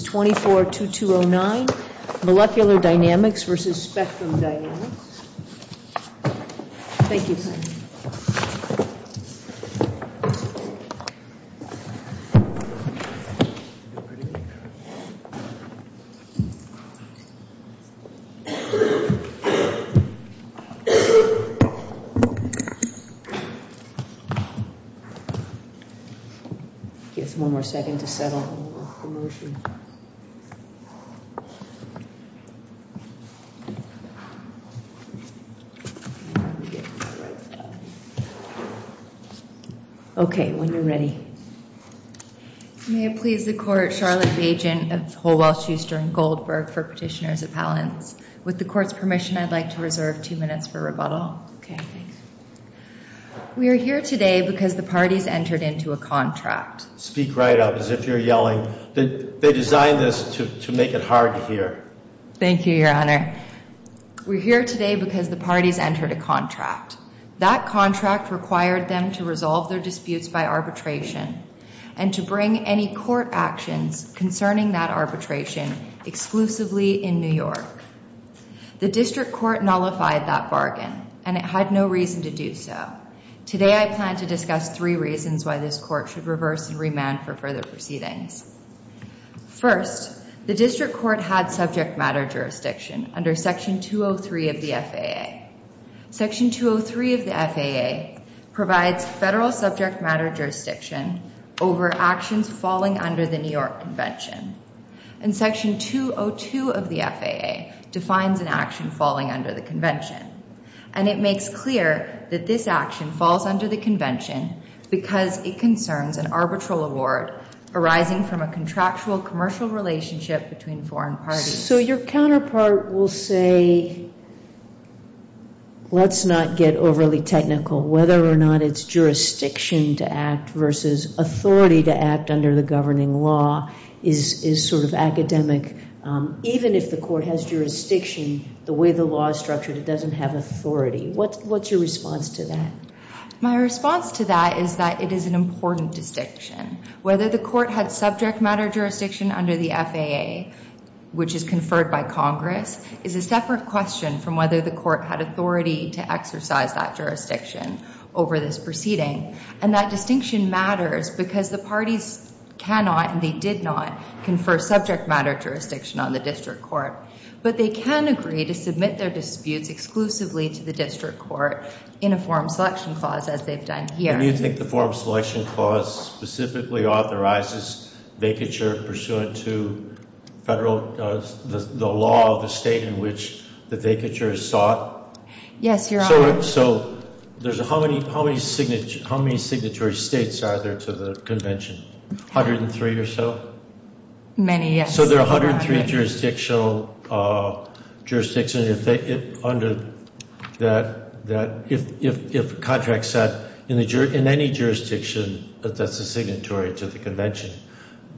242209 Molecular Dynamics v. Spectrum Dynamics Okay, when you're ready. May it please the Court, Charlotte Bajent of Holwell-Schuster and Goldberg for Petitioners Appellants. With the Court's permission, I'd like to reserve two minutes for rebuttal. Okay, thanks. We are here today because the parties entered into a contract. Speak right up as if you're yelling. They designed this to make it hard to hear. Thank you, Your Honor. We're here today because the parties entered a contract. That contract required them to resolve their disputes by arbitration and to bring any court actions concerning that arbitration exclusively in New York. The District Court nullified that bargain, and it had no reason to do so. Today, I plan to discuss three reasons why this Court should reverse and remand for further proceedings. First, the District Court had subject matter jurisdiction under Section 203 of the FAA. Section 203 of the FAA provides federal subject matter jurisdiction over actions falling under the New York Convention. And Section 202 of the FAA defines an action falling under the Convention. And it makes clear that this action falls under the Convention because it concerns an arbitral award arising from a contractual commercial relationship between foreign parties. So your counterpart will say, let's not get overly technical. Whether or not it's jurisdiction to act versus authority to act under the governing law is sort of academic. Even if the court has jurisdiction, the way the law is structured, it doesn't have authority. What's your response to that? My response to that is that it is an important distinction. Whether the court had subject matter jurisdiction under the FAA, which is conferred by Congress, is a separate question from whether the court had authority to exercise that jurisdiction over this proceeding. And that distinction matters because the parties cannot, and they did not, confer subject matter jurisdiction on the District Court. But they can agree to submit their disputes exclusively to the District Court in a forum selection clause, as they've done here. And you think the forum selection clause specifically authorizes vacature pursuant to the law of the state in which the vacature is sought? Yes, Your Honor. So how many signatory states are there to the Convention? 103 or so? Many, yes. So there are 103 jurisdictional jurisdictions under that, if contracts set in any jurisdiction that's a signatory to the Convention,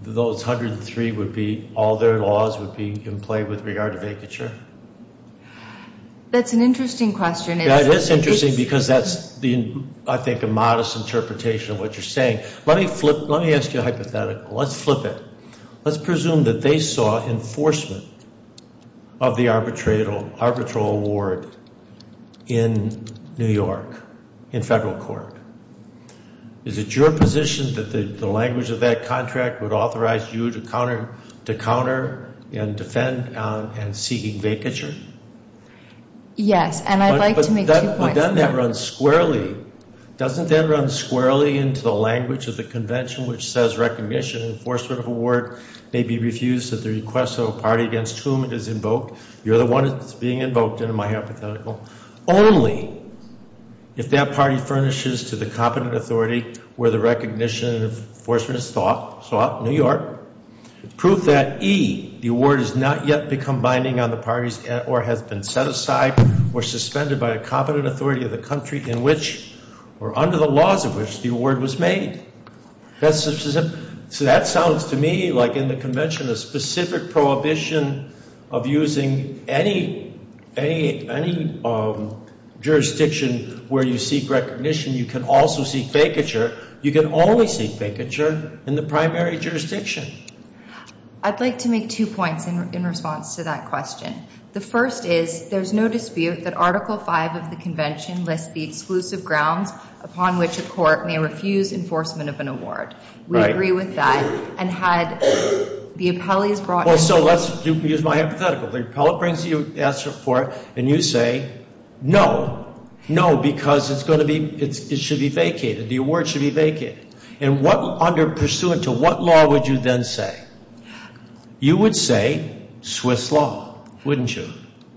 those 103 would be, all their laws would be in play with regard to vacature? That's an interesting question. Yeah, it is interesting because that's, I think, a modest interpretation of what you're saying. Let me flip, let me ask you a hypothetical. Let's flip it. Let's presume that they saw enforcement of the arbitral award in New York in federal court. Is it your position that the language of that contract would authorize you to counter and defend and seeking vacature? Yes, and I'd like to make two points. Having done that runs squarely, doesn't that run squarely into the language of the Convention, which says recognition of enforcement of award may be refused at the request of a party against whom it is invoked? You're the one that's being invoked in my hypothetical. Only if that party furnishes to the competent authority where the recognition of enforcement is sought, New York, proof that E, the award has not yet become binding on the parties or has been set aside or suspended by a competent authority of the country in which or under the laws of which the award was made. So that sounds to me like in the Convention a specific prohibition of using any jurisdiction where you seek recognition. You can also seek vacature. You can only seek vacature in the primary jurisdiction. I'd like to make two points in response to that question. The first is there's no dispute that Article V of the Convention lists the exclusive grounds upon which a court may refuse enforcement of an award. We agree with that. And had the appellees brought... Well, so let's use my hypothetical. The appellate brings you an answer for it and you say no, no, because it's going to be... It should be vacated. The award should be vacated. And what... Under... Pursuant to what law would you then say? You would say Swiss law, wouldn't you?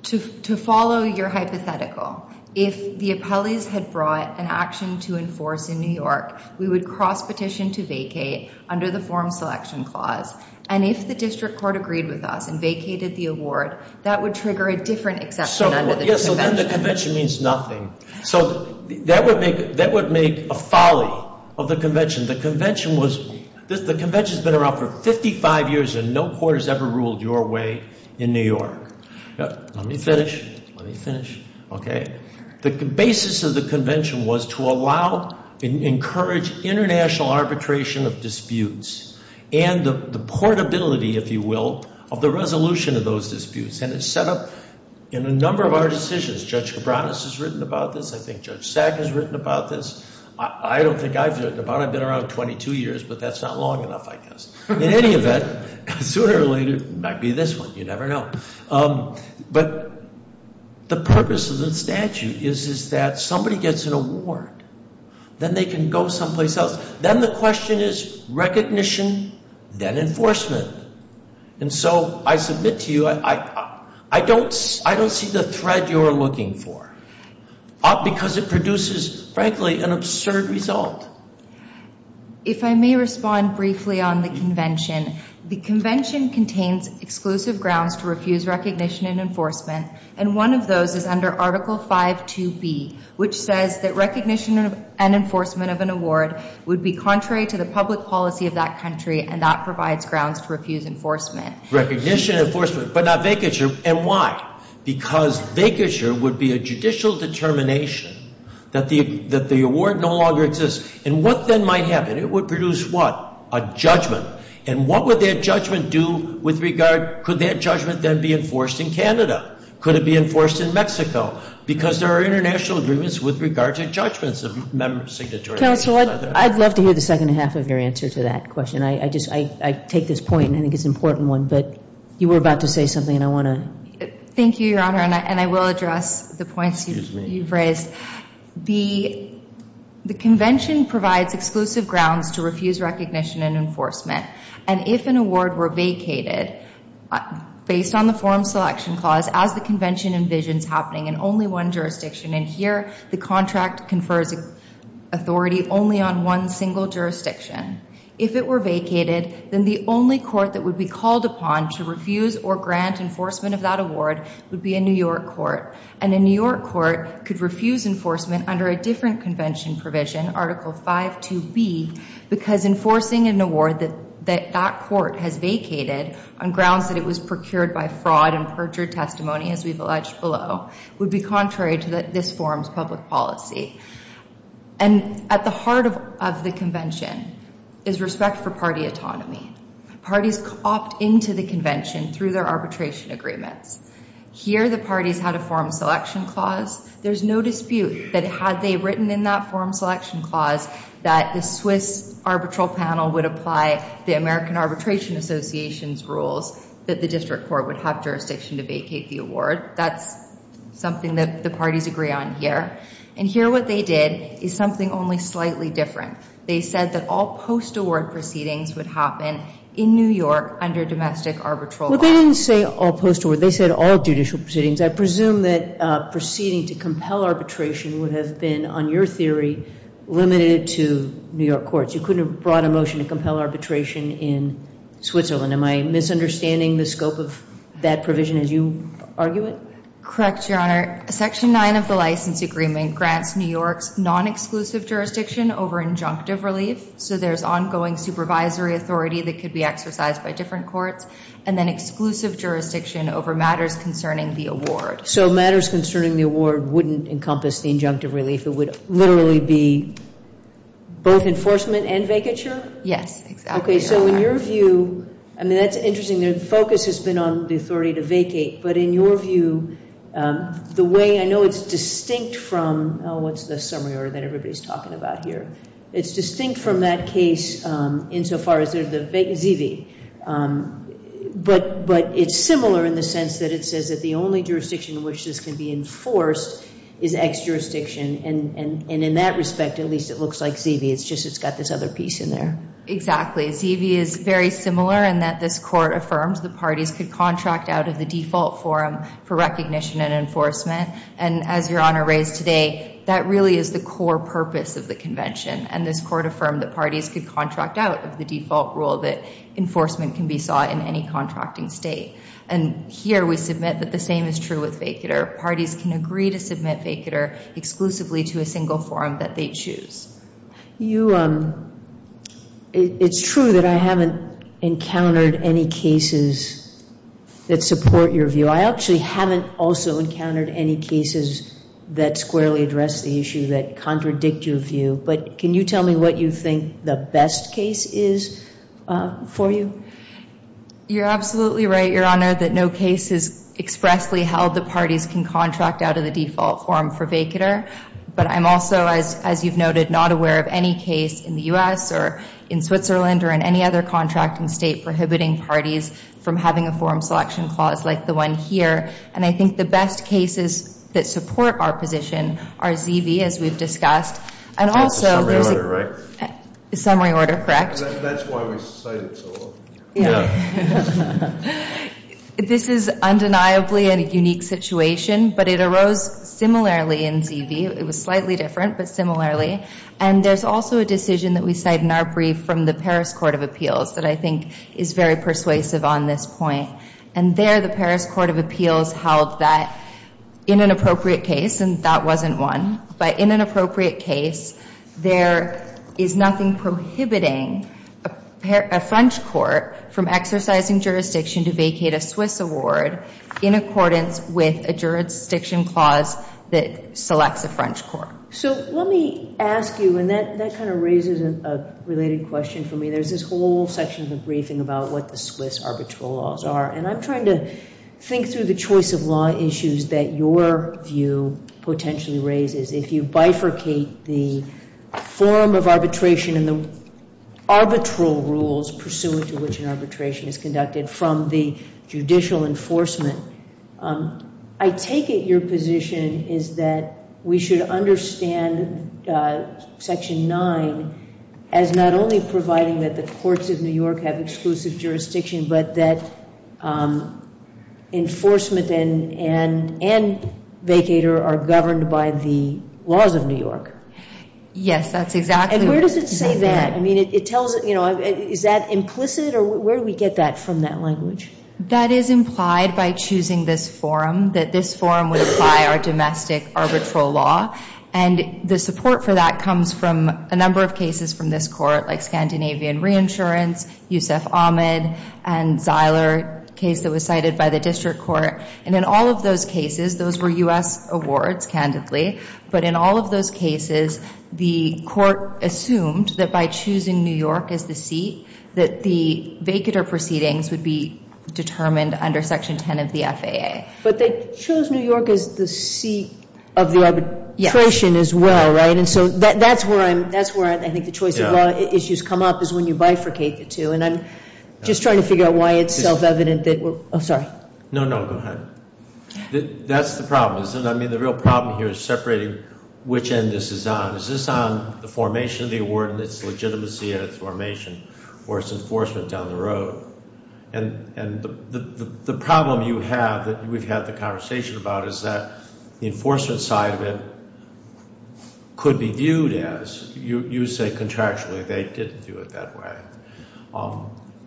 To follow your hypothetical, if the appellees had brought an action to enforce in New York, we would cross-petition to vacate under the Form Selection Clause. And if the district court agreed with us and vacated the award, that would trigger a different exception under the Convention. So then the Convention means nothing. So that would make a folly of the Convention. The Convention was... The Convention's been around for 55 years and no court has ever ruled your way in New York. Let me finish. Let me finish. Okay. The basis of the Convention was to allow and encourage international arbitration of disputes and the portability, if you will, of the resolution of those disputes. And it's set up in a number of our decisions. Judge Cabranes has written about this. I think Judge Sack has written about this. I don't think I've written about it. I've been around 22 years, but that's not long enough, I guess. In any event, sooner or later, it might be this one. You never know. But the purpose of the statute is that somebody gets an award. Then they can go someplace else. Then the question is recognition, then enforcement. And so I submit to you, I don't see the thread you're looking for because it produces, frankly, an absurd result. If I may respond briefly on the Convention. The Convention contains exclusive grounds to refuse recognition and enforcement, and one of those is under Article 5.2.B, which says that recognition and enforcement of an award would be contrary to the public policy of that country, and that provides grounds to refuse enforcement. Recognition and enforcement, but not vacature. And why? Because vacature would be a judicial determination that the award no longer exists. And what then might happen? It would produce what? A judgment. And what would that judgment do with regard, could that judgment then be enforced in Canada? Could it be enforced in Mexico? Because there are international agreements with regard to judgments of member signatories. Counsel, I'd love to hear the second half of your answer to that question. I take this point, and I think it's an important one, but you were about to say something, and I want to. Thank you, Your Honor, and I will address the points you've raised. Excuse me. The convention provides exclusive grounds to refuse recognition and enforcement, and if an award were vacated based on the form selection clause, as the convention envisions happening in only one jurisdiction, and here the contract confers authority only on one single jurisdiction, if it were vacated, then the only court that would be called upon to refuse or grant enforcement of that award would be a New York court, and a New York court could refuse enforcement under a different convention provision, Article 5.2b, because enforcing an award that that court has vacated on grounds that it was procured by fraud and perjured testimony, as we've alleged below, would be contrary to this forum's public policy. And at the heart of the convention is respect for party autonomy. Parties opt into the convention through their arbitration agreements. Here the parties had a forum selection clause. There's no dispute that had they written in that forum selection clause that the Swiss arbitral panel would apply the American Arbitration Association's rules that the district court would have jurisdiction to vacate the award. That's something that the parties agree on here. And here what they did is something only slightly different. They said that all post-award proceedings would happen in New York under domestic arbitral law. Well, they didn't say all post-award. They said all judicial proceedings. I presume that proceeding to compel arbitration would have been, on your theory, limited to New York courts. You couldn't have brought a motion to compel arbitration in Switzerland. Am I misunderstanding the scope of that provision as you argue it? Correct, Your Honor. Section 9 of the license agreement grants New York's non-exclusive jurisdiction over injunctive relief, so there's ongoing supervisory authority that could be exercised by different courts, and then exclusive jurisdiction over matters concerning the award. So matters concerning the award wouldn't encompass the injunctive relief. It would literally be both enforcement and vacature? Yes, exactly, Your Honor. Okay, so in your view, I mean, that's interesting. The focus has been on the authority to vacate, but in your view, the way I know it's distinct from, oh, what's the summary order that everybody's talking about here? It's distinct from that case insofar as they're the ZV, but it's similar in the sense that it says that the only jurisdiction in which this can be enforced is ex-jurisdiction, and in that respect, at least it looks like ZV. It's just it's got this other piece in there. Exactly. ZV is very similar in that this court affirms the parties could contract out of the default forum for recognition and enforcement, and as Your Honor raised today, that really is the core purpose of the convention, and this court affirmed that parties could contract out of the default rule that enforcement can be sought in any contracting state, and here we submit that the same is true with vacature. Parties can agree to submit vacature exclusively to a single forum that they choose. It's true that I haven't encountered any cases that support your view. I actually haven't also encountered any cases that squarely address the issue that contradict your view, but can you tell me what you think the best case is for you? You're absolutely right, Your Honor, that no case is expressly held that parties can contract out of the default forum for vacature, but I'm also, as you've noted, not aware of any case in the U.S. or in Switzerland or in any other contracting state prohibiting parties from having a forum selection clause like the one here, and I think the best cases that support our position are ZV, as we've discussed. That's a summary order, right? Summary order, correct. That's why we cite it so often. Yeah. This is undeniably a unique situation, but it arose similarly in ZV. It was slightly different, but similarly, and there's also a decision that we cite in our brief from the Paris Court of Appeals that I think is very persuasive on this point, and there the Paris Court of Appeals held that in an appropriate case, and that wasn't one, but in an appropriate case, there is nothing prohibiting a French court from exercising jurisdiction to vacate a Swiss award in accordance with a jurisdiction clause that selects a French court. So let me ask you, and that kind of raises a related question for me. There's this whole section of the briefing about what the Swiss arbitral laws are, and I'm trying to think through the choice of law issues that your view potentially raises. If you bifurcate the form of arbitration and the arbitral rules pursuant to which an arbitration is conducted from the judicial enforcement, I take it your position is that we should understand Section 9 as not only providing that the courts of New York have exclusive jurisdiction, but that enforcement and vacater are governed by the laws of New York. Yes, that's exactly. And where does it say that? I mean, it tells, you know, is that implicit, or where do we get that from, that language? That is implied by choosing this forum, that this forum would apply our domestic arbitral law, and the support for that comes from a number of cases from this court, like Scandinavian Reinsurance, Yousef Ahmed, and Zeiler, a case that was cited by the district court. And in all of those cases, those were U.S. awards, candidly, but in all of those cases, the court assumed that by choosing New York as the seat, that the vacater proceedings would be determined under Section 10 of the FAA. But they chose New York as the seat of the arbitration as well, right? And so that's where I think the choice of law issues come up, is when you bifurcate the two. And I'm just trying to figure out why it's self-evident that we're, oh, sorry. No, no, go ahead. That's the problem, isn't it? I mean, the real problem here is separating which end this is on. Is this on the formation of the award and its legitimacy at its formation, or its enforcement down the road? And the problem you have that we've had the conversation about is that the enforcement side of it could be viewed as, you say contractually they didn't do it that way,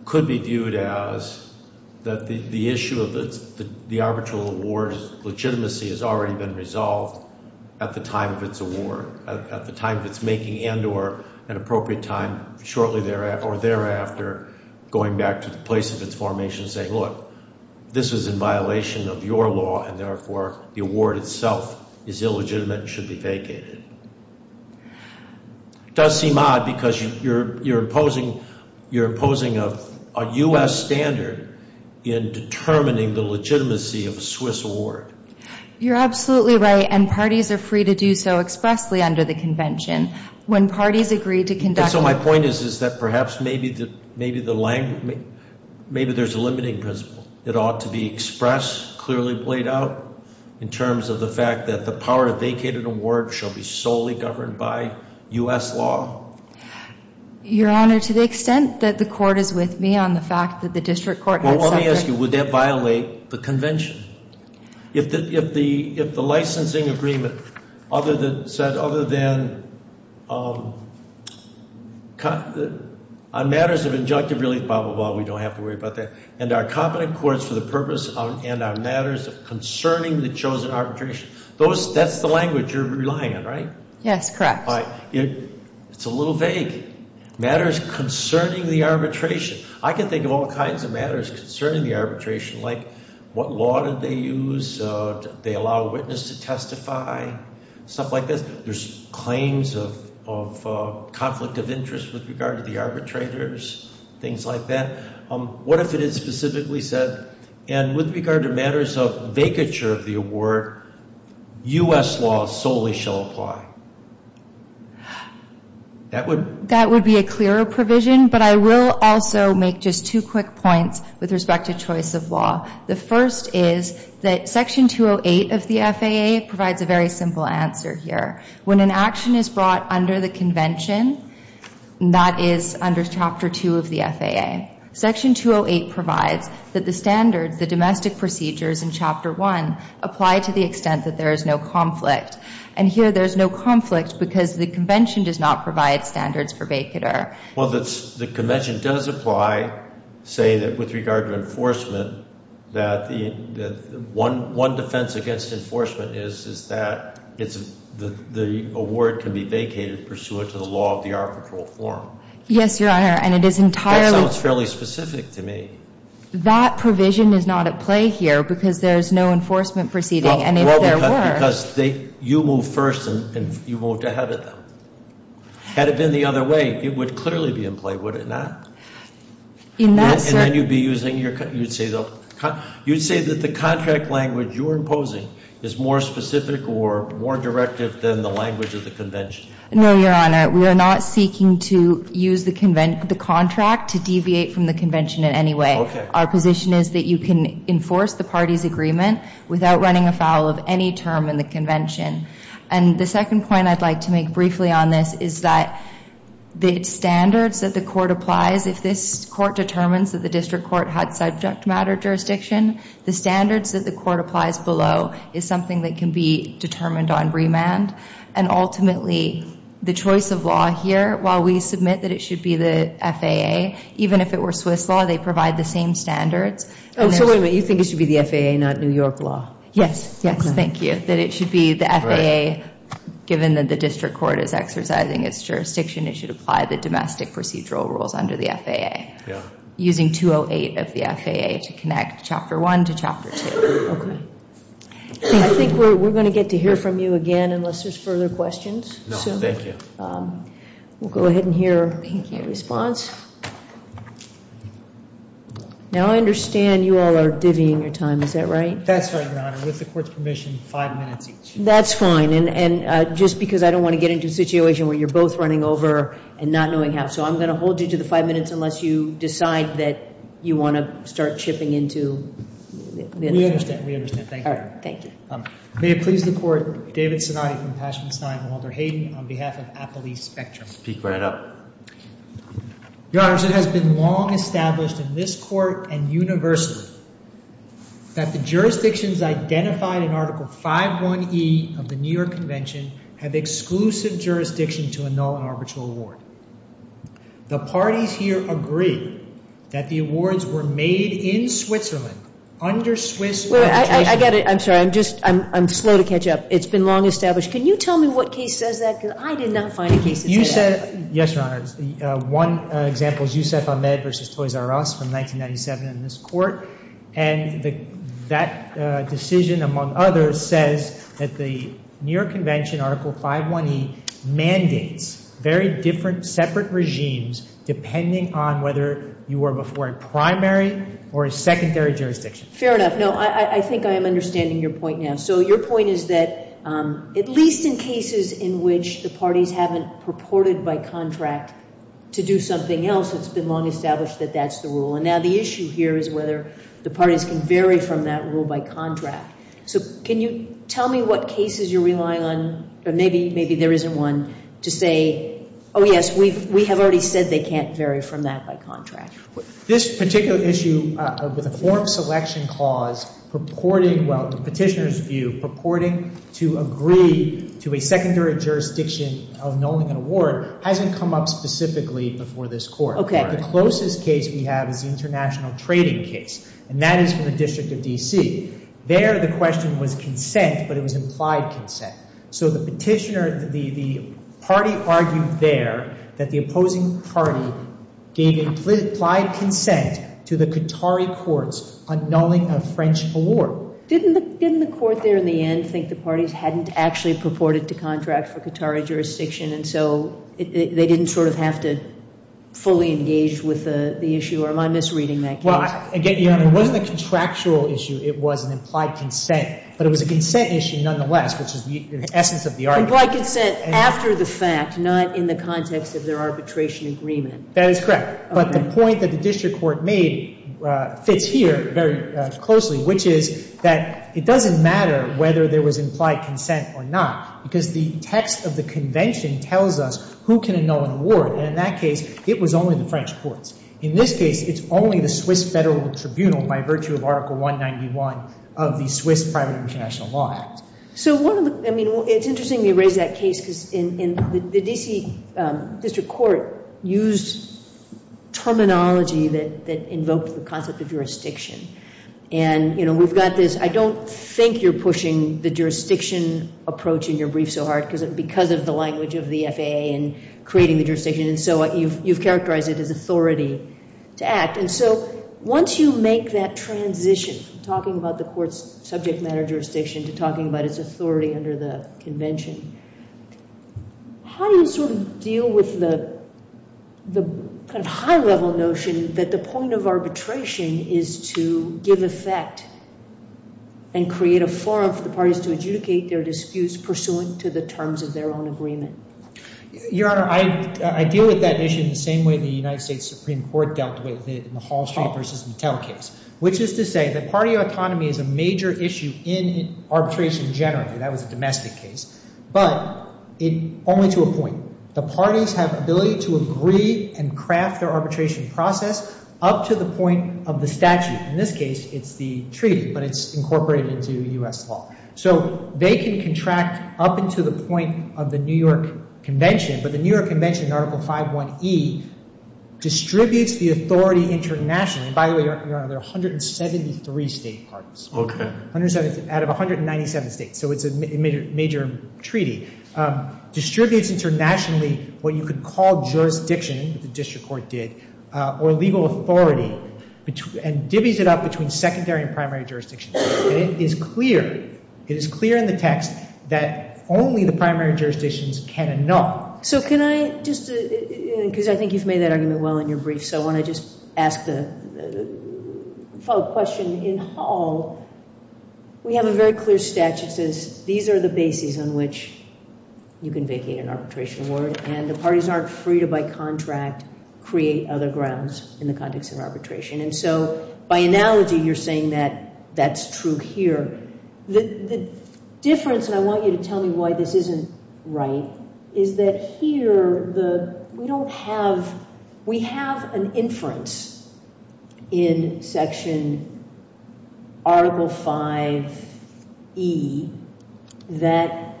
could be viewed as that the issue of the arbitral award's legitimacy has already been resolved at the time of its award, at the time of its making and or an appropriate time shortly thereafter or thereafter, going back to the place of its formation and saying, look, this is in violation of your law, and therefore the award itself is illegitimate and should be vacated. It does seem odd because you're imposing a U.S. standard in determining the legitimacy of a Swiss award. You're absolutely right, and parties are free to do so expressly under the convention. When parties agree to conduct. So my point is that perhaps maybe there's a limiting principle. It ought to be expressed, clearly played out, in terms of the fact that the power to vacate an award shall be solely governed by U.S. law. Your Honor, to the extent that the court is with me on the fact that the district court has suffered. I ask you, would that violate the convention? If the licensing agreement said other than on matters of injunctive release, blah, blah, blah, we don't have to worry about that, and are competent courts for the purpose and on matters concerning the chosen arbitration. That's the language you're relying on, right? Yes, correct. It's a little vague. Matters concerning the arbitration. I can think of all kinds of matters concerning the arbitration, like what law did they use? Did they allow a witness to testify? Stuff like this. There's claims of conflict of interest with regard to the arbitrators, things like that. What if it is specifically said, and with regard to matters of vacature of the award, U.S. law solely shall apply? That would be a clearer provision, but I will also make just two quick points with respect to choice of law. The first is that Section 208 of the FAA provides a very simple answer here. When an action is brought under the convention, that is under Chapter 2 of the FAA. Section 208 provides that the standards, the domestic procedures in Chapter 1, apply to the extent that there is no conflict. And here there is no conflict because the convention does not provide standards for vacature. Well, the convention does apply, say, that with regard to enforcement, that one defense against enforcement is that the award can be vacated pursuant to the law of the arbitral form. Yes, Your Honor, and it is entirely. That sounds fairly specific to me. That provision is not at play here because there is no enforcement proceeding, and if there were. Because you move first and you moved ahead of them. Had it been the other way, it would clearly be in play, would it not? In that sense. And then you would be using, you would say that the contract language you are imposing is more specific or more directive than the language of the convention. No, Your Honor. We are not seeking to use the contract to deviate from the convention in any way. Okay. Our position is that you can enforce the party's agreement without running afoul of any term in the convention. And the second point I'd like to make briefly on this is that the standards that the court applies, if this court determines that the district court had subject matter jurisdiction, the standards that the court applies below is something that can be determined on remand. And ultimately, the choice of law here, while we submit that it should be the FAA, even if it were Swiss law, they provide the same standards. Oh, so wait a minute. You think it should be the FAA, not New York law? Yes, yes. Thank you. That it should be the FAA, given that the district court is exercising its jurisdiction, it should apply the domestic procedural rules under the FAA. Yeah. Using 208 of the FAA to connect Chapter 1 to Chapter 2. Okay. I think we're going to get to hear from you again unless there's further questions. No, thank you. We'll go ahead and hear a response. Now I understand you all are divvying your time, is that right? That's right, Your Honor. With the court's permission, five minutes each. That's fine. And just because I don't want to get into a situation where you're both running over and not knowing how. So I'm going to hold you to the five minutes unless you decide that you want to start chipping into. We understand, we understand. Thank you. All right, thank you. May it please the court, David Sinati from Passion Stein and Walter Hayden on behalf of Applebee Spectrum. Speak right up. Your Honor, it has been long established in this court and universally that the jurisdictions identified in Article 5.1e of the New York Convention have exclusive jurisdiction to annul an arbitral award. The parties here agree that the awards were made in Switzerland under Swiss arbitration. I'm sorry. I'm slow to catch up. It's been long established. Can you tell me what case says that? Because I did not find a case that said that. Yes, Your Honor. One example is Youssef Ahmed v. Toys R Us from 1997 in this court. And that decision, among others, says that the New York Convention Article 5.1e mandates very different separate regimes depending on whether you are before a primary or a secondary jurisdiction. Fair enough. No, I think I am understanding your point now. So your point is that at least in cases in which the parties haven't purported by contract to do something else, it's been long established that that's the rule. And now the issue here is whether the parties can vary from that rule by contract. So can you tell me what cases you're relying on, or maybe there isn't one, to say, oh, yes, we have already said they can't vary from that by contract. This particular issue with the form selection clause purporting, well, the petitioner's view purporting to agree to a secondary jurisdiction of annulling an award hasn't come up specifically before this court. Okay. All right. The closest case we have is the international trading case, and that is from the District of D.C. There the question was consent, but it was implied consent. So the petitioner – the party argued there that the opposing party gave implied consent to the Qatari courts annulling a French award. Didn't the court there in the end think the parties hadn't actually purported to contract for Qatari jurisdiction, and so they didn't sort of have to fully engage with the issue? Or am I misreading that case? Well, again, Your Honor, it wasn't a contractual issue. It was an implied consent. But it was a consent issue nonetheless, which is the essence of the argument. Implied consent after the fact, not in the context of their arbitration agreement. That is correct. But the point that the district court made fits here very closely, which is that it doesn't matter whether there was implied consent or not, because the text of the convention tells us who can annul an award. And in that case, it was only the French courts. In this case, it's only the Swiss Federal Tribunal by virtue of Article 191 of the Swiss Private International Law Act. It's interesting you raise that case, because the D.C. District Court used terminology that invoked the concept of jurisdiction. And we've got this, I don't think you're pushing the jurisdiction approach in your brief so hard because of the language of the FAA and creating the jurisdiction. And so you've characterized it as authority to act. And so once you make that transition from talking about the court's subject matter jurisdiction to talking about its authority under the convention, how do you sort of deal with the kind of high-level notion that the point of arbitration is to give effect and create a forum for the parties to adjudicate their disputes pursuant to the terms of their own agreement? Your Honor, I deal with that issue in the same way the United States Supreme Court dealt with it in the Hall Street v. Mattel case, which is to say that party autonomy is a major issue in arbitration generally. That was a domestic case. But only to a point. The parties have ability to agree and craft their arbitration process up to the point of the statute. In this case, it's the treaty, but it's incorporated into U.S. law. So they can contract up into the point of the New York Convention. But the New York Convention in Article 5.1e distributes the authority internationally. By the way, Your Honor, there are 173 state parties. Out of 197 states. So it's a major treaty. Distributes internationally what you could call jurisdiction, the district court did, or legal authority, and divvies it up between secondary and primary jurisdictions. And it is clear, it is clear in the text that only the primary jurisdictions can annul. So can I just, because I think you've made that argument well in your brief, so I want to just ask the follow-up question. In Hall, we have a very clear statute that says these are the bases on which you can vacate an arbitration award. And the parties aren't free to, by contract, create other grounds in the context of arbitration. And so by analogy, you're saying that that's true here. The difference, and I want you to tell me why this isn't right, is that here, we don't have, we have an inference in Section Article 5.e that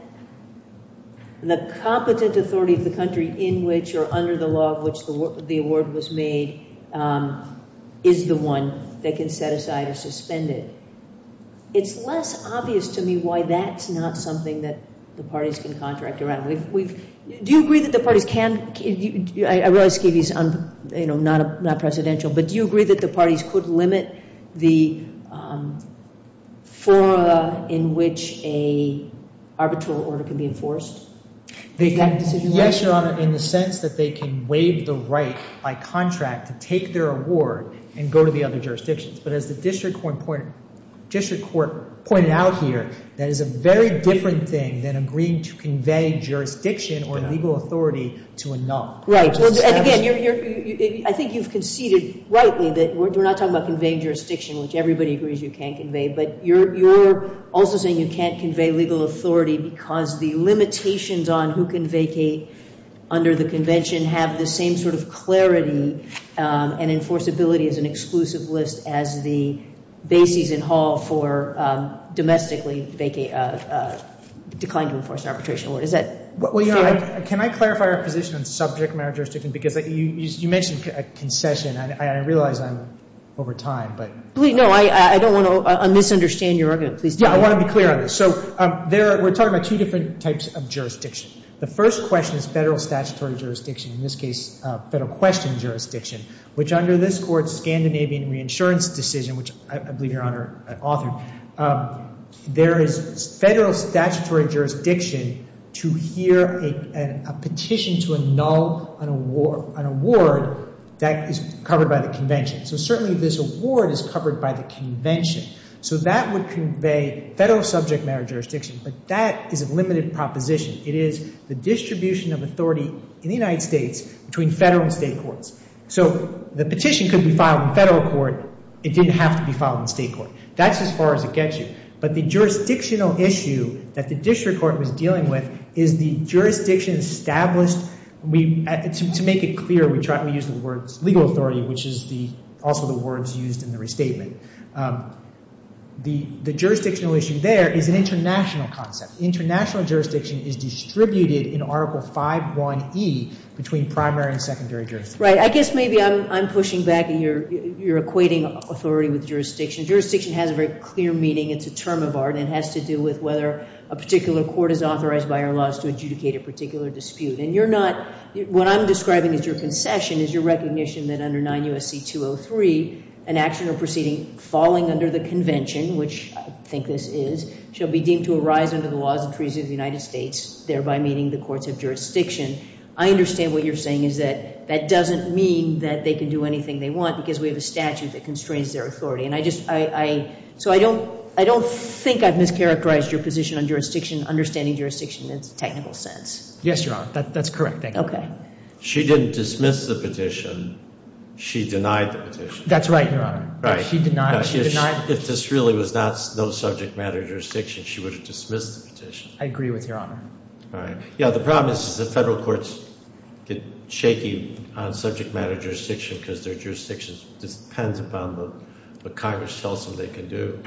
the competent authority of the country in which or under the law of which the award was made is the one that can set aside or suspend it. It's less obvious to me why that's not something that the parties can contract around. Do you agree that the parties can, I realize Skivy's not presidential, but do you agree that the parties could limit the fora in which an arbitral order can be enforced? Yes, Your Honor, in the sense that they can waive the right by contract to take their award and go to the other jurisdictions. But as the district court pointed out here, that is a very different thing than agreeing to convey jurisdiction or legal authority to a null. Right, and again, I think you've conceded rightly that we're not talking about conveying jurisdiction, which everybody agrees you can convey. But you're also saying you can't convey legal authority because the limitations on who can vacate under the convention have the same sort of clarity and enforceability as an exclusive list as the bases in Hall for domestically decline to enforce an arbitration award. Is that fair? Well, Your Honor, can I clarify our position on subject matter jurisdiction? Because you mentioned a concession, and I realize I'm over time, but. No, I don't want to misunderstand your argument. Yeah, I want to be clear on this. So we're talking about two different types of jurisdiction. The first question is federal statutory jurisdiction, in this case federal question jurisdiction, which under this Court's Scandinavian reinsurance decision, which I believe Your Honor authored, there is federal statutory jurisdiction to hear a petition to annul an award that is covered by the convention. So certainly this award is covered by the convention. So that would convey federal subject matter jurisdiction, but that is a limited proposition. It is the distribution of authority in the United States between federal and state courts. So the petition could be filed in federal court. It didn't have to be filed in state court. That's as far as it gets you. But the jurisdictional issue that the district court was dealing with is the jurisdiction established. To make it clear, we use the words legal authority, which is also the words used in the restatement. The jurisdictional issue there is an international concept. International jurisdiction is distributed in Article 5.1e between primary and secondary jurisdictions. Right. I guess maybe I'm pushing back and you're equating authority with jurisdiction. Jurisdiction has a very clear meaning. It's a term of art, and it has to do with whether a particular court is authorized by our laws to adjudicate a particular dispute. And you're not, what I'm describing as your concession is your recognition that under 9 U.S.C. 203, an action or proceeding falling under the convention, which I think this is, shall be deemed to arise under the laws and treaties of the United States, thereby meeting the courts of jurisdiction. I understand what you're saying is that that doesn't mean that they can do anything they want because we have a statute that constrains their authority. And I just, I, so I don't, I don't think I've mischaracterized your position on jurisdiction, understanding jurisdiction in a technical sense. Yes, Your Honor. That's correct, thank you. Okay. She didn't dismiss the petition. She denied the petition. That's right, Your Honor. Right. She denied it. She denied it. If this really was not no subject matter jurisdiction, she would have dismissed the petition. I agree with Your Honor. All right. Yeah, the problem is the federal courts get shaky on subject matter jurisdiction because their jurisdiction depends upon what Congress tells them they can do.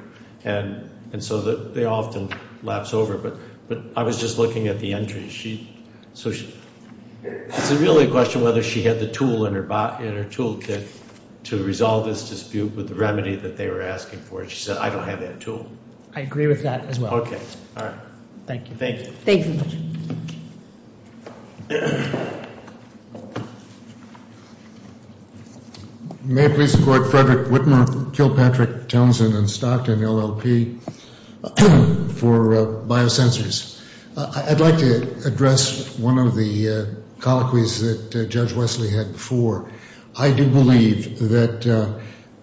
And so they often lapse over. But I was just looking at the entries. She, so she, it's really a question whether she had the tool in her toolkit to resolve this dispute with the remedy that they were asking for. She said, I don't have that tool. I agree with that as well. All right. Thank you. Thank you. Thank you. May it please the Court. Frederick Whitmer, Kilpatrick, Townsend, and Stockton, LLP for biosensors. I'd like to address one of the colloquies that Judge Wesley had before. I do believe that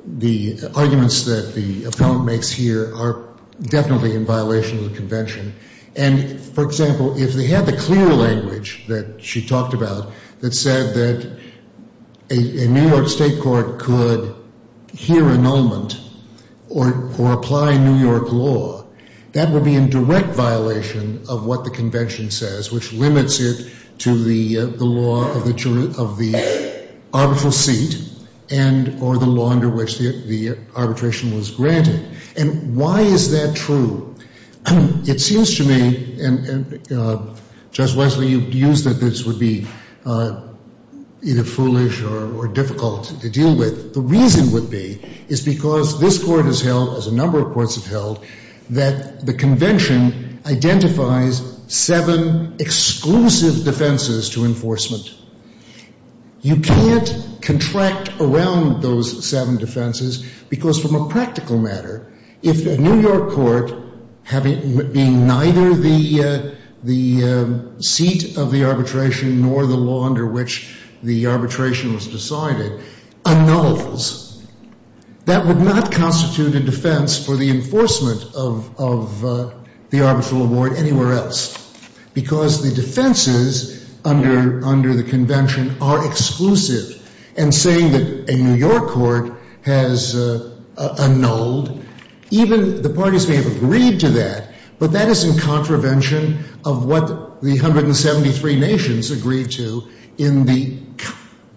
the arguments that the appellant makes here are definitely in violation of the convention. And, for example, if they had the clear language that she talked about that said that a New York State court could hear annulment or apply New York law, that would be in direct violation of what the convention says, which limits it to the law of the arbitral seat and or the law under which the arbitration was granted. And why is that true? It seems to me, and Judge Wesley, you've used that this would be either foolish or difficult to deal with. The reason would be is because this Court has held, as a number of courts have held, that the convention identifies seven exclusive defenses to enforcement. You can't contract around those seven defenses because, from a practical matter, if a New York court being neither the seat of the arbitration nor the law under which the arbitration was decided, annuls, that would not constitute a defense for the enforcement of the arbitral award anywhere else because the defenses under the convention are exclusive. And saying that a New York court has annulled, even the parties may have agreed to that, but that is in contravention of what the 173 nations agreed to in the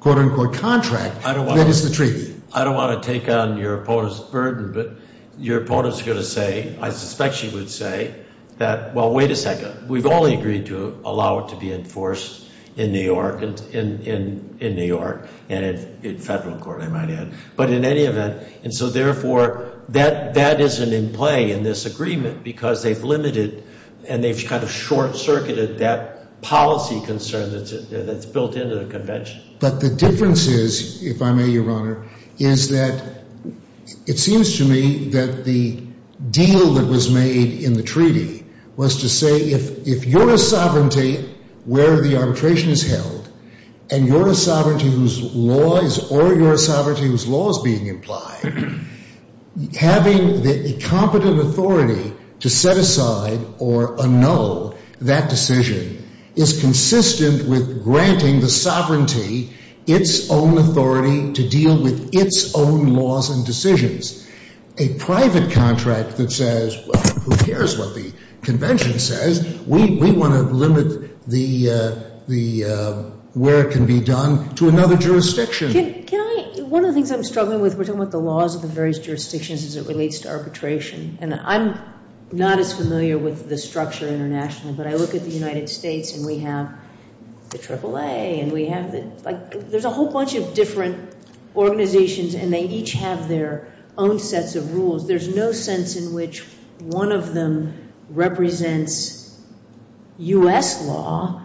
quote-unquote contract that is the treaty. I don't want to take on your opponent's burden, but your opponent's going to say, I suspect she would say, that, well, wait a second, we've only agreed to allow it to be enforced in New York and in federal court, I might add. But in any event, and so, therefore, that isn't in play in this agreement because they've limited and they've kind of short-circuited that policy concern that's built into the convention. But the difference is, if I may, Your Honor, is that it seems to me that the deal that was made in the treaty was to say, if you're a sovereignty where the arbitration is held and you're a sovereignty whose law is or you're a sovereignty whose law is being implied, having the competent authority to set aside or annul that decision is consistent with granting the sovereignty its own authority to deal with its own laws and decisions. A private contract that says, well, who cares what the convention says? We want to limit where it can be done to another jurisdiction. Can I, one of the things I'm struggling with, we're talking about the laws of the various jurisdictions as it relates to arbitration, and I'm not as familiar with the structure internationally, but I look at the United States and we have the AAA and we have the, like, there's a whole bunch of different organizations and they each have their own sets of rules. There's no sense in which one of them represents U.S. law.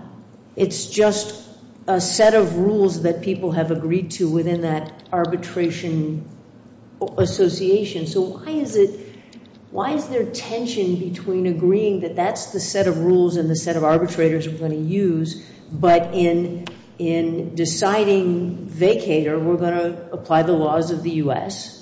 It's just a set of rules that people have agreed to within that arbitration association. So why is it, why is there tension between agreeing that that's the set of rules and the set of arbitrators we're going to use, but in deciding vacater we're going to apply the laws of the U.S.?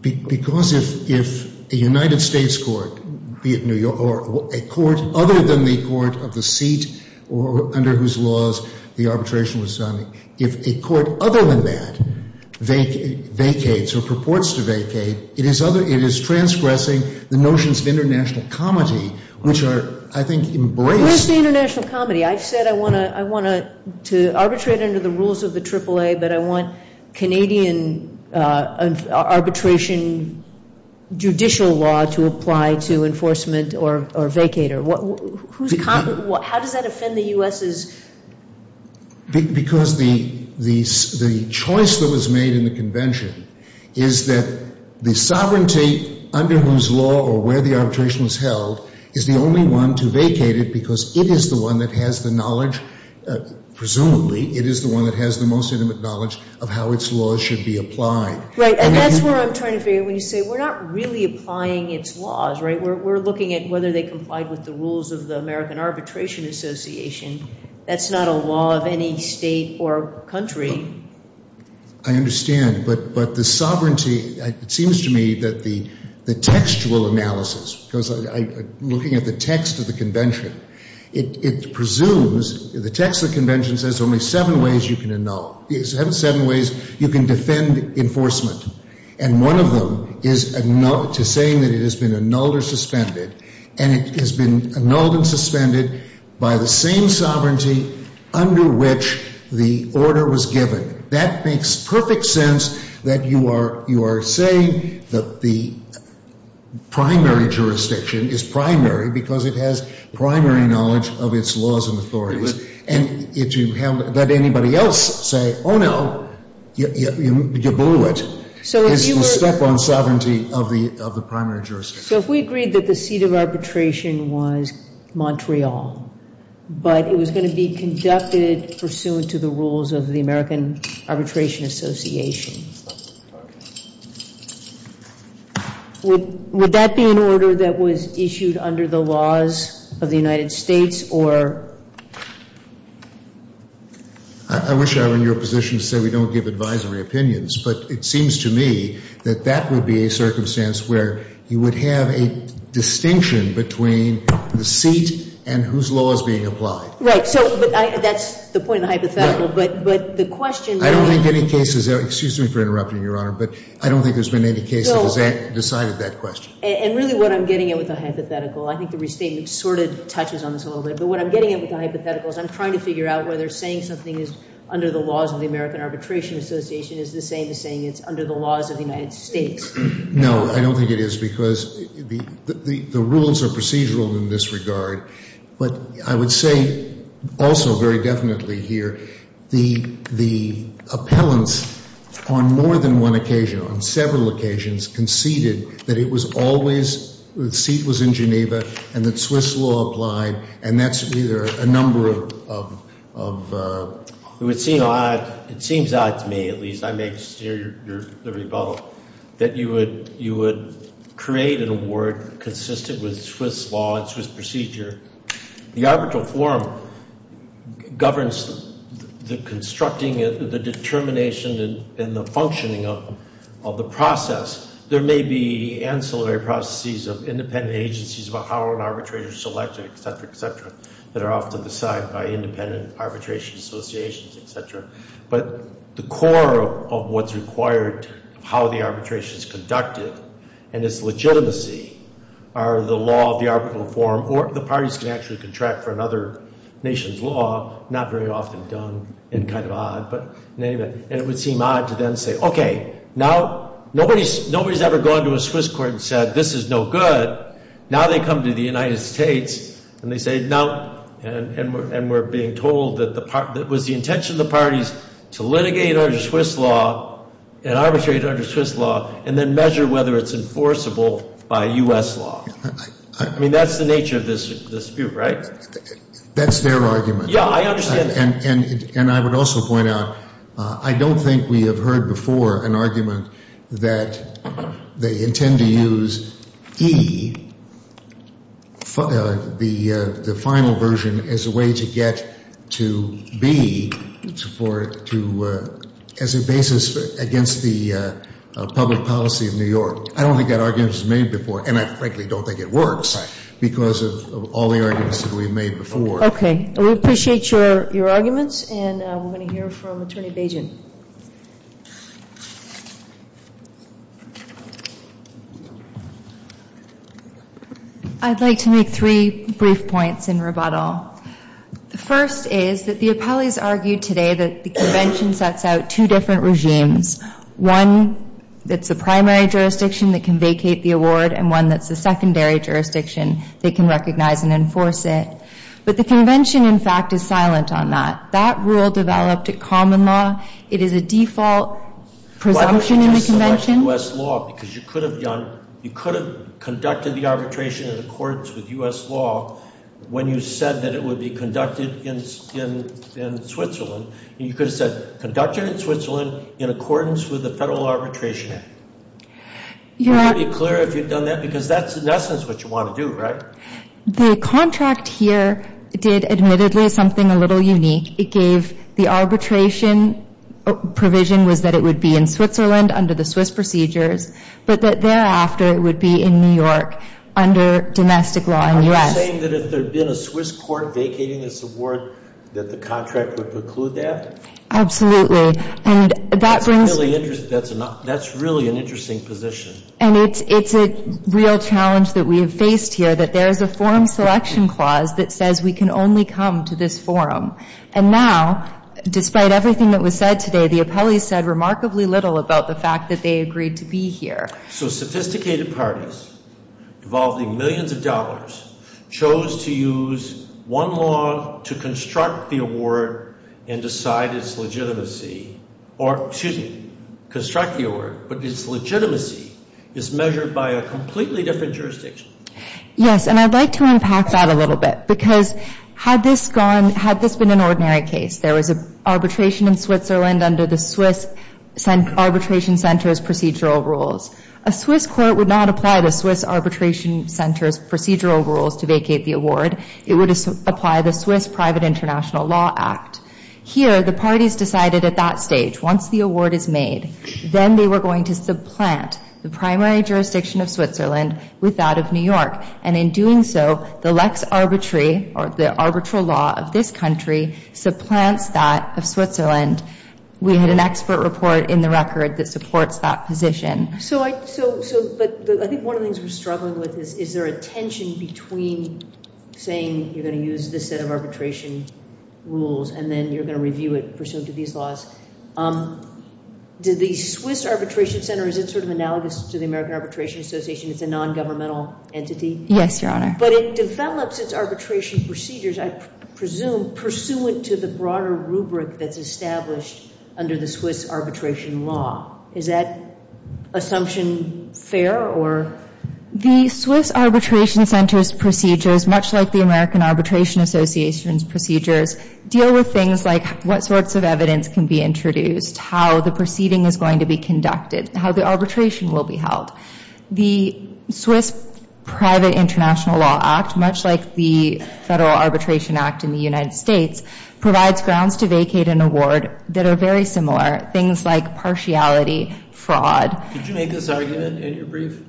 Because if a United States court, be it New York, or a court other than the court of the seat under whose laws the arbitration was signed, if a court other than that vacates or purports to vacate, it is transgressing the notions of international comity, which are, I think, embraced. Where's the international comity? I've said I want to arbitrate under the rules of the AAA, but I want Canadian arbitration judicial law to apply to enforcement or vacater. How does that offend the U.S.? Because the choice that was made in the convention is that the sovereignty under whose law or where the arbitration was held is the only one to vacate it because it is the one that has the knowledge, presumably, it is the one that has the most intimate knowledge of how its laws should be applied. Right. And that's where I'm trying to figure when you say we're not really applying its laws, right? We're looking at whether they complied with the rules of the American Arbitration Association. That's not a law of any state or country. I understand. But the sovereignty, it seems to me that the textual analysis, because I'm looking at the text of the convention, it presumes, the text of the convention says only seven ways you can annul. Seven ways you can defend enforcement. And one of them is to saying that it has been annulled or suspended, and it has been annulled and suspended by the same sovereignty under which the order was given. That makes perfect sense that you are saying that the primary jurisdiction is primary because it has primary knowledge of its laws and authorities, and that anybody else say, oh, no, you blew it, is to step on sovereignty of the primary jurisdiction. So if we agreed that the seat of arbitration was Montreal, but it was going to be conducted pursuant to the rules of the American Arbitration Association, would that be an order that was issued under the laws of the United States or? I wish I were in your position to say we don't give advisory opinions, but it seems to me that that would be a circumstance where you would have a distinction between the seat and whose law is being applied. So that's the point of the hypothetical, but the question being. I don't think any cases, excuse me for interrupting, Your Honor, but I don't think there's been any case that has decided that question. And really what I'm getting at with the hypothetical, I think the restatement sort of touches on this a little bit, but what I'm getting at with the hypothetical is I'm trying to figure out whether saying something is under the laws of the American Arbitration Association is the same as saying it's under the laws of the United States. No, I don't think it is because the rules are procedural in this regard, but I would say also very definitely here the appellants on more than one occasion, on several occasions conceded that it was always, the seat was in Geneva and that Swiss law applied, and that's either a number of... It would seem odd, it seems odd to me at least, I may steer your rebuttal, that you would create an award consistent with Swiss law and Swiss procedure. The arbitral forum governs the constructing, the determination, and the functioning of the process. There may be ancillary processes of independent agencies about how an arbitrator is selected, et cetera, et cetera, that are often decided by independent arbitration associations, et cetera, but the core of what's required of how the arbitration is conducted and its legitimacy are the law of the arbitral forum, or the parties can actually contract for another nation's law, not very often done and kind of odd, but in any event, and it would seem odd to then say, okay, now nobody's ever gone to a Swiss court and said, this is no good, now they come to the United States and they say, no, and we're being told that it was the intention of the parties to litigate under Swiss law and arbitrate under Swiss law and then measure whether it's enforceable by U.S. law. I mean, that's the nature of this dispute, right? That's their argument. Yeah, I understand. And I would also point out, I don't think we have heard before an argument that they intend to use E, the final version, as a way to get to B as a basis against the public policy of New York. I don't think that argument was made before, and I frankly don't think it works, because of all the arguments that we've made before. Okay. We appreciate your arguments, and we're going to hear from Attorney Bajan. I'd like to make three brief points in rebuttal. The first is that the appellees argued today that the convention sets out two different regimes, one that's the primary jurisdiction that can vacate the award and one that's the secondary jurisdiction that can recognize and enforce it. But the convention, in fact, is silent on that. That rule developed at common law. It is a default presumption in the convention. Why would you just select U.S. law? Because you could have conducted the arbitration in accordance with U.S. law when you said that it would be conducted in Switzerland, and you could have said conducted in Switzerland in accordance with the Federal Arbitration Act. Would you be clear if you'd done that? Because that's, in essence, what you want to do, right? The contract here did, admittedly, something a little unique. It gave the arbitration provision was that it would be in Switzerland under the Swiss procedures, but that thereafter it would be in New York under domestic law in the U.S. Are you saying that if there had been a Swiss court vacating this award that the contract would preclude that? Absolutely. That's really an interesting position. And it's a real challenge that we have faced here, that there is a forum selection clause that says we can only come to this forum. And now, despite everything that was said today, the appellees said remarkably little about the fact that they agreed to be here. So sophisticated parties, involving millions of dollars, chose to use one law to construct the award and decide its legitimacy. Or, excuse me, construct the award, but its legitimacy is measured by a completely different jurisdiction. Yes, and I'd like to unpack that a little bit. Because had this been an ordinary case, there was an arbitration in Switzerland under the Swiss arbitration center's procedural rules. A Swiss court would not apply the Swiss arbitration center's procedural rules to vacate the award. It would apply the Swiss Private International Law Act. Here, the parties decided at that stage, once the award is made, then they were going to supplant the primary jurisdiction of Switzerland with that of New York. And in doing so, the lex arbitri, or the arbitral law of this country, supplants that of Switzerland. We had an expert report in the record that supports that position. So, but I think one of the things we're struggling with is, is there a tension between saying you're going to use this set of arbitration rules and then you're going to review it pursuant to these laws. Does the Swiss arbitration center, is it sort of analogous to the American Arbitration Association? It's a non-governmental entity. Yes, Your Honor. But it develops its arbitration procedures, I presume, pursuant to the broader rubric that's established under the Swiss arbitration law. Is that assumption fair, or? The Swiss arbitration center's procedures, much like the American Arbitration Association's procedures, deal with things like what sorts of evidence can be introduced, how the proceeding is going to be conducted, how the arbitration will be held. The Swiss Private International Law Act, much like the Federal Arbitration Act in the United States, provides grounds to vacate an award that are very similar, things like partiality, fraud. Did you make this argument in your brief?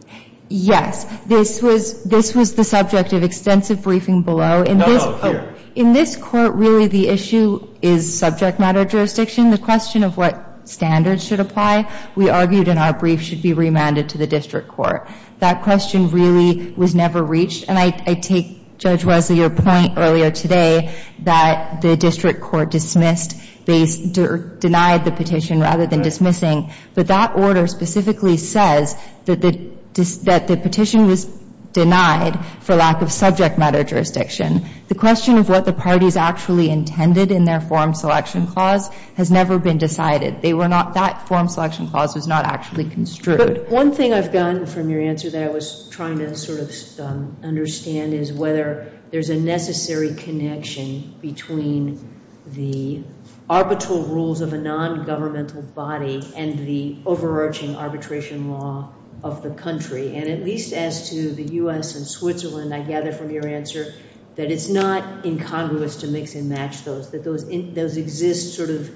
Yes. This was the subject of extensive briefing below. No, here. In this Court, really, the issue is subject matter jurisdiction. The question of what standards should apply, we argued in our brief, should be remanded to the district court. That question really was never reached. And I take, Judge Wesley, your point earlier today that the district court dismissed or denied the petition rather than dismissing. But that order specifically says that the petition was denied for lack of subject matter jurisdiction. The question of what the parties actually intended in their form selection clause has never been decided. That form selection clause was not actually construed. But one thing I've gotten from your answer that I was trying to sort of understand is whether there's a necessary connection between the arbitral rules of a nongovernmental body and the overarching arbitration law of the country. And at least as to the U.S. and Switzerland, I gather from your answer, that it's not incongruous to mix and match those. Those exist sort of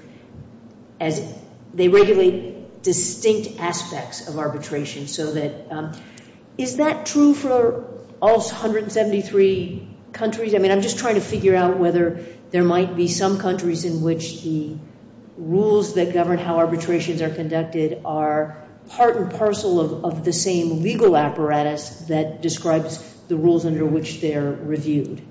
as they regulate distinct aspects of arbitration. So is that true for all 173 countries? I mean, I'm just trying to figure out whether there might be some countries in which the rules that govern how arbitrations are conducted are part and parcel of the same legal apparatus that describes the rules under which they're reviewed.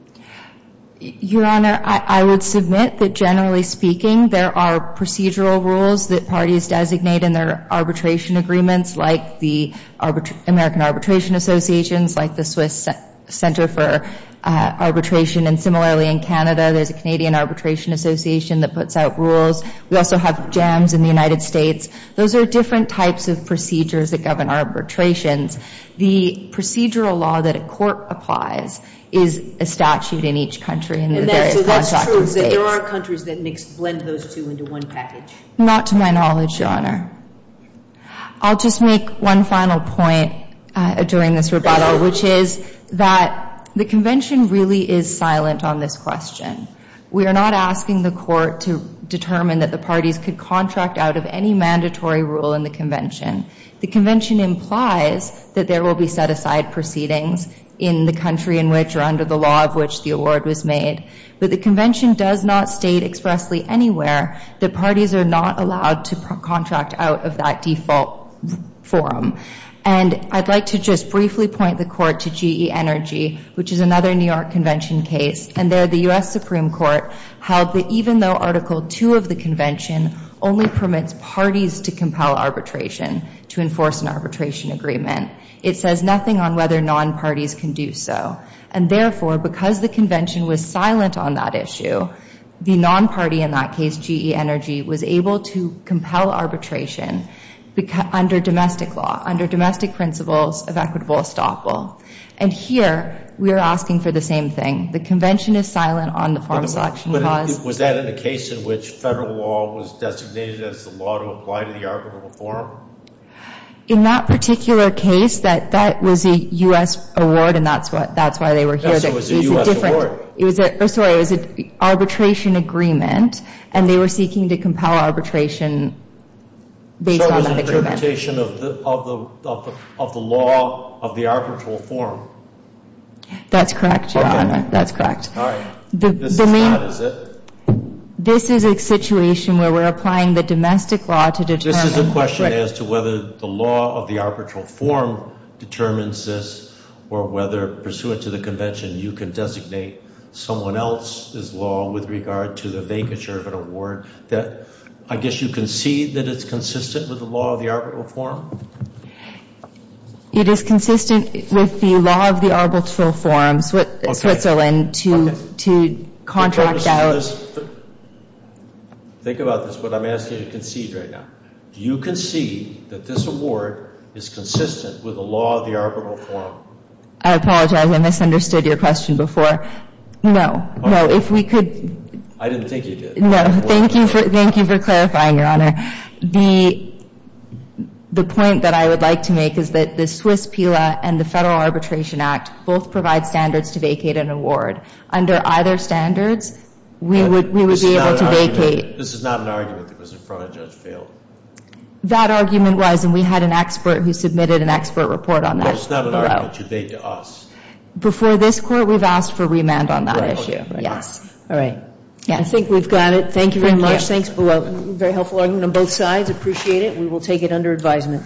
Your Honor, I would submit that generally speaking, there are procedural rules that parties designate in their arbitration agreements like the American Arbitration Associations, like the Swiss Center for Arbitration, and similarly in Canada, there's a Canadian Arbitration Association that puts out rules. We also have JAMS in the United States. Those are different types of procedures that govern arbitrations. The procedural law that a court applies is a statute in each country in the various contracting states. And so that's true, is that there are countries that mix, blend those two into one package? Not to my knowledge, Your Honor. I'll just make one final point during this rebuttal, which is that the convention really is silent on this question. We are not asking the court to determine that the parties could contract out of any mandatory rule in the convention. The convention implies that there will be set-aside proceedings in the country in which or under the law of which the award was made, but the convention does not state expressly anywhere that parties are not allowed to contract out of that default forum. And I'd like to just briefly point the court to GE Energy, which is another New York convention case, and there the U.S. Supreme Court held that even though Article 2 of the convention only permits parties to compel arbitration to enforce an arbitration agreement, it says nothing on whether non-parties can do so. And therefore, because the convention was silent on that issue, the non-party in that case, GE Energy, was able to compel arbitration under domestic law, under domestic principles of equitable estoppel. And here we are asking for the same thing. The convention is silent on the form selection clause. But was that in a case in which federal law was designated as the law to apply to the arbitral reform? In that particular case, that was a U.S. award, and that's why they were here. So it was a U.S. award. Sorry, it was an arbitration agreement, and they were seeking to compel arbitration based on that agreement. So it was an interpretation of the law of the arbitral form. That's correct, Your Honor. That's correct. All right. This is not, is it? This is a situation where we're applying the domestic law to determine. This is a question as to whether the law of the arbitral form determines this or whether pursuant to the convention you can designate someone else's law with regard to the vacature of an award. I guess you concede that it's consistent with the law of the arbitral form? It is consistent with the law of the arbitral form, Switzerland, to contract out. Think about this. What I'm asking you to concede right now. Do you concede that this award is consistent with the law of the arbitral form? I apologize. I misunderstood your question before. No. No. If we could. I didn't think you did. No. Thank you for clarifying, Your Honor. The point that I would like to make is that the Swiss PILA and the Federal Arbitration Act both provide standards to vacate an award. Under either standards, we would be able to vacate. This is not an argument that was in front of Judge Phil. That argument was, and we had an expert who submitted an expert report on that. No, it's not an argument you made to us. Before this Court, we've asked for remand on that issue. All right. I think we've got it. Thank you very much. Very helpful argument on both sides. Appreciate it. We will take it under advisement.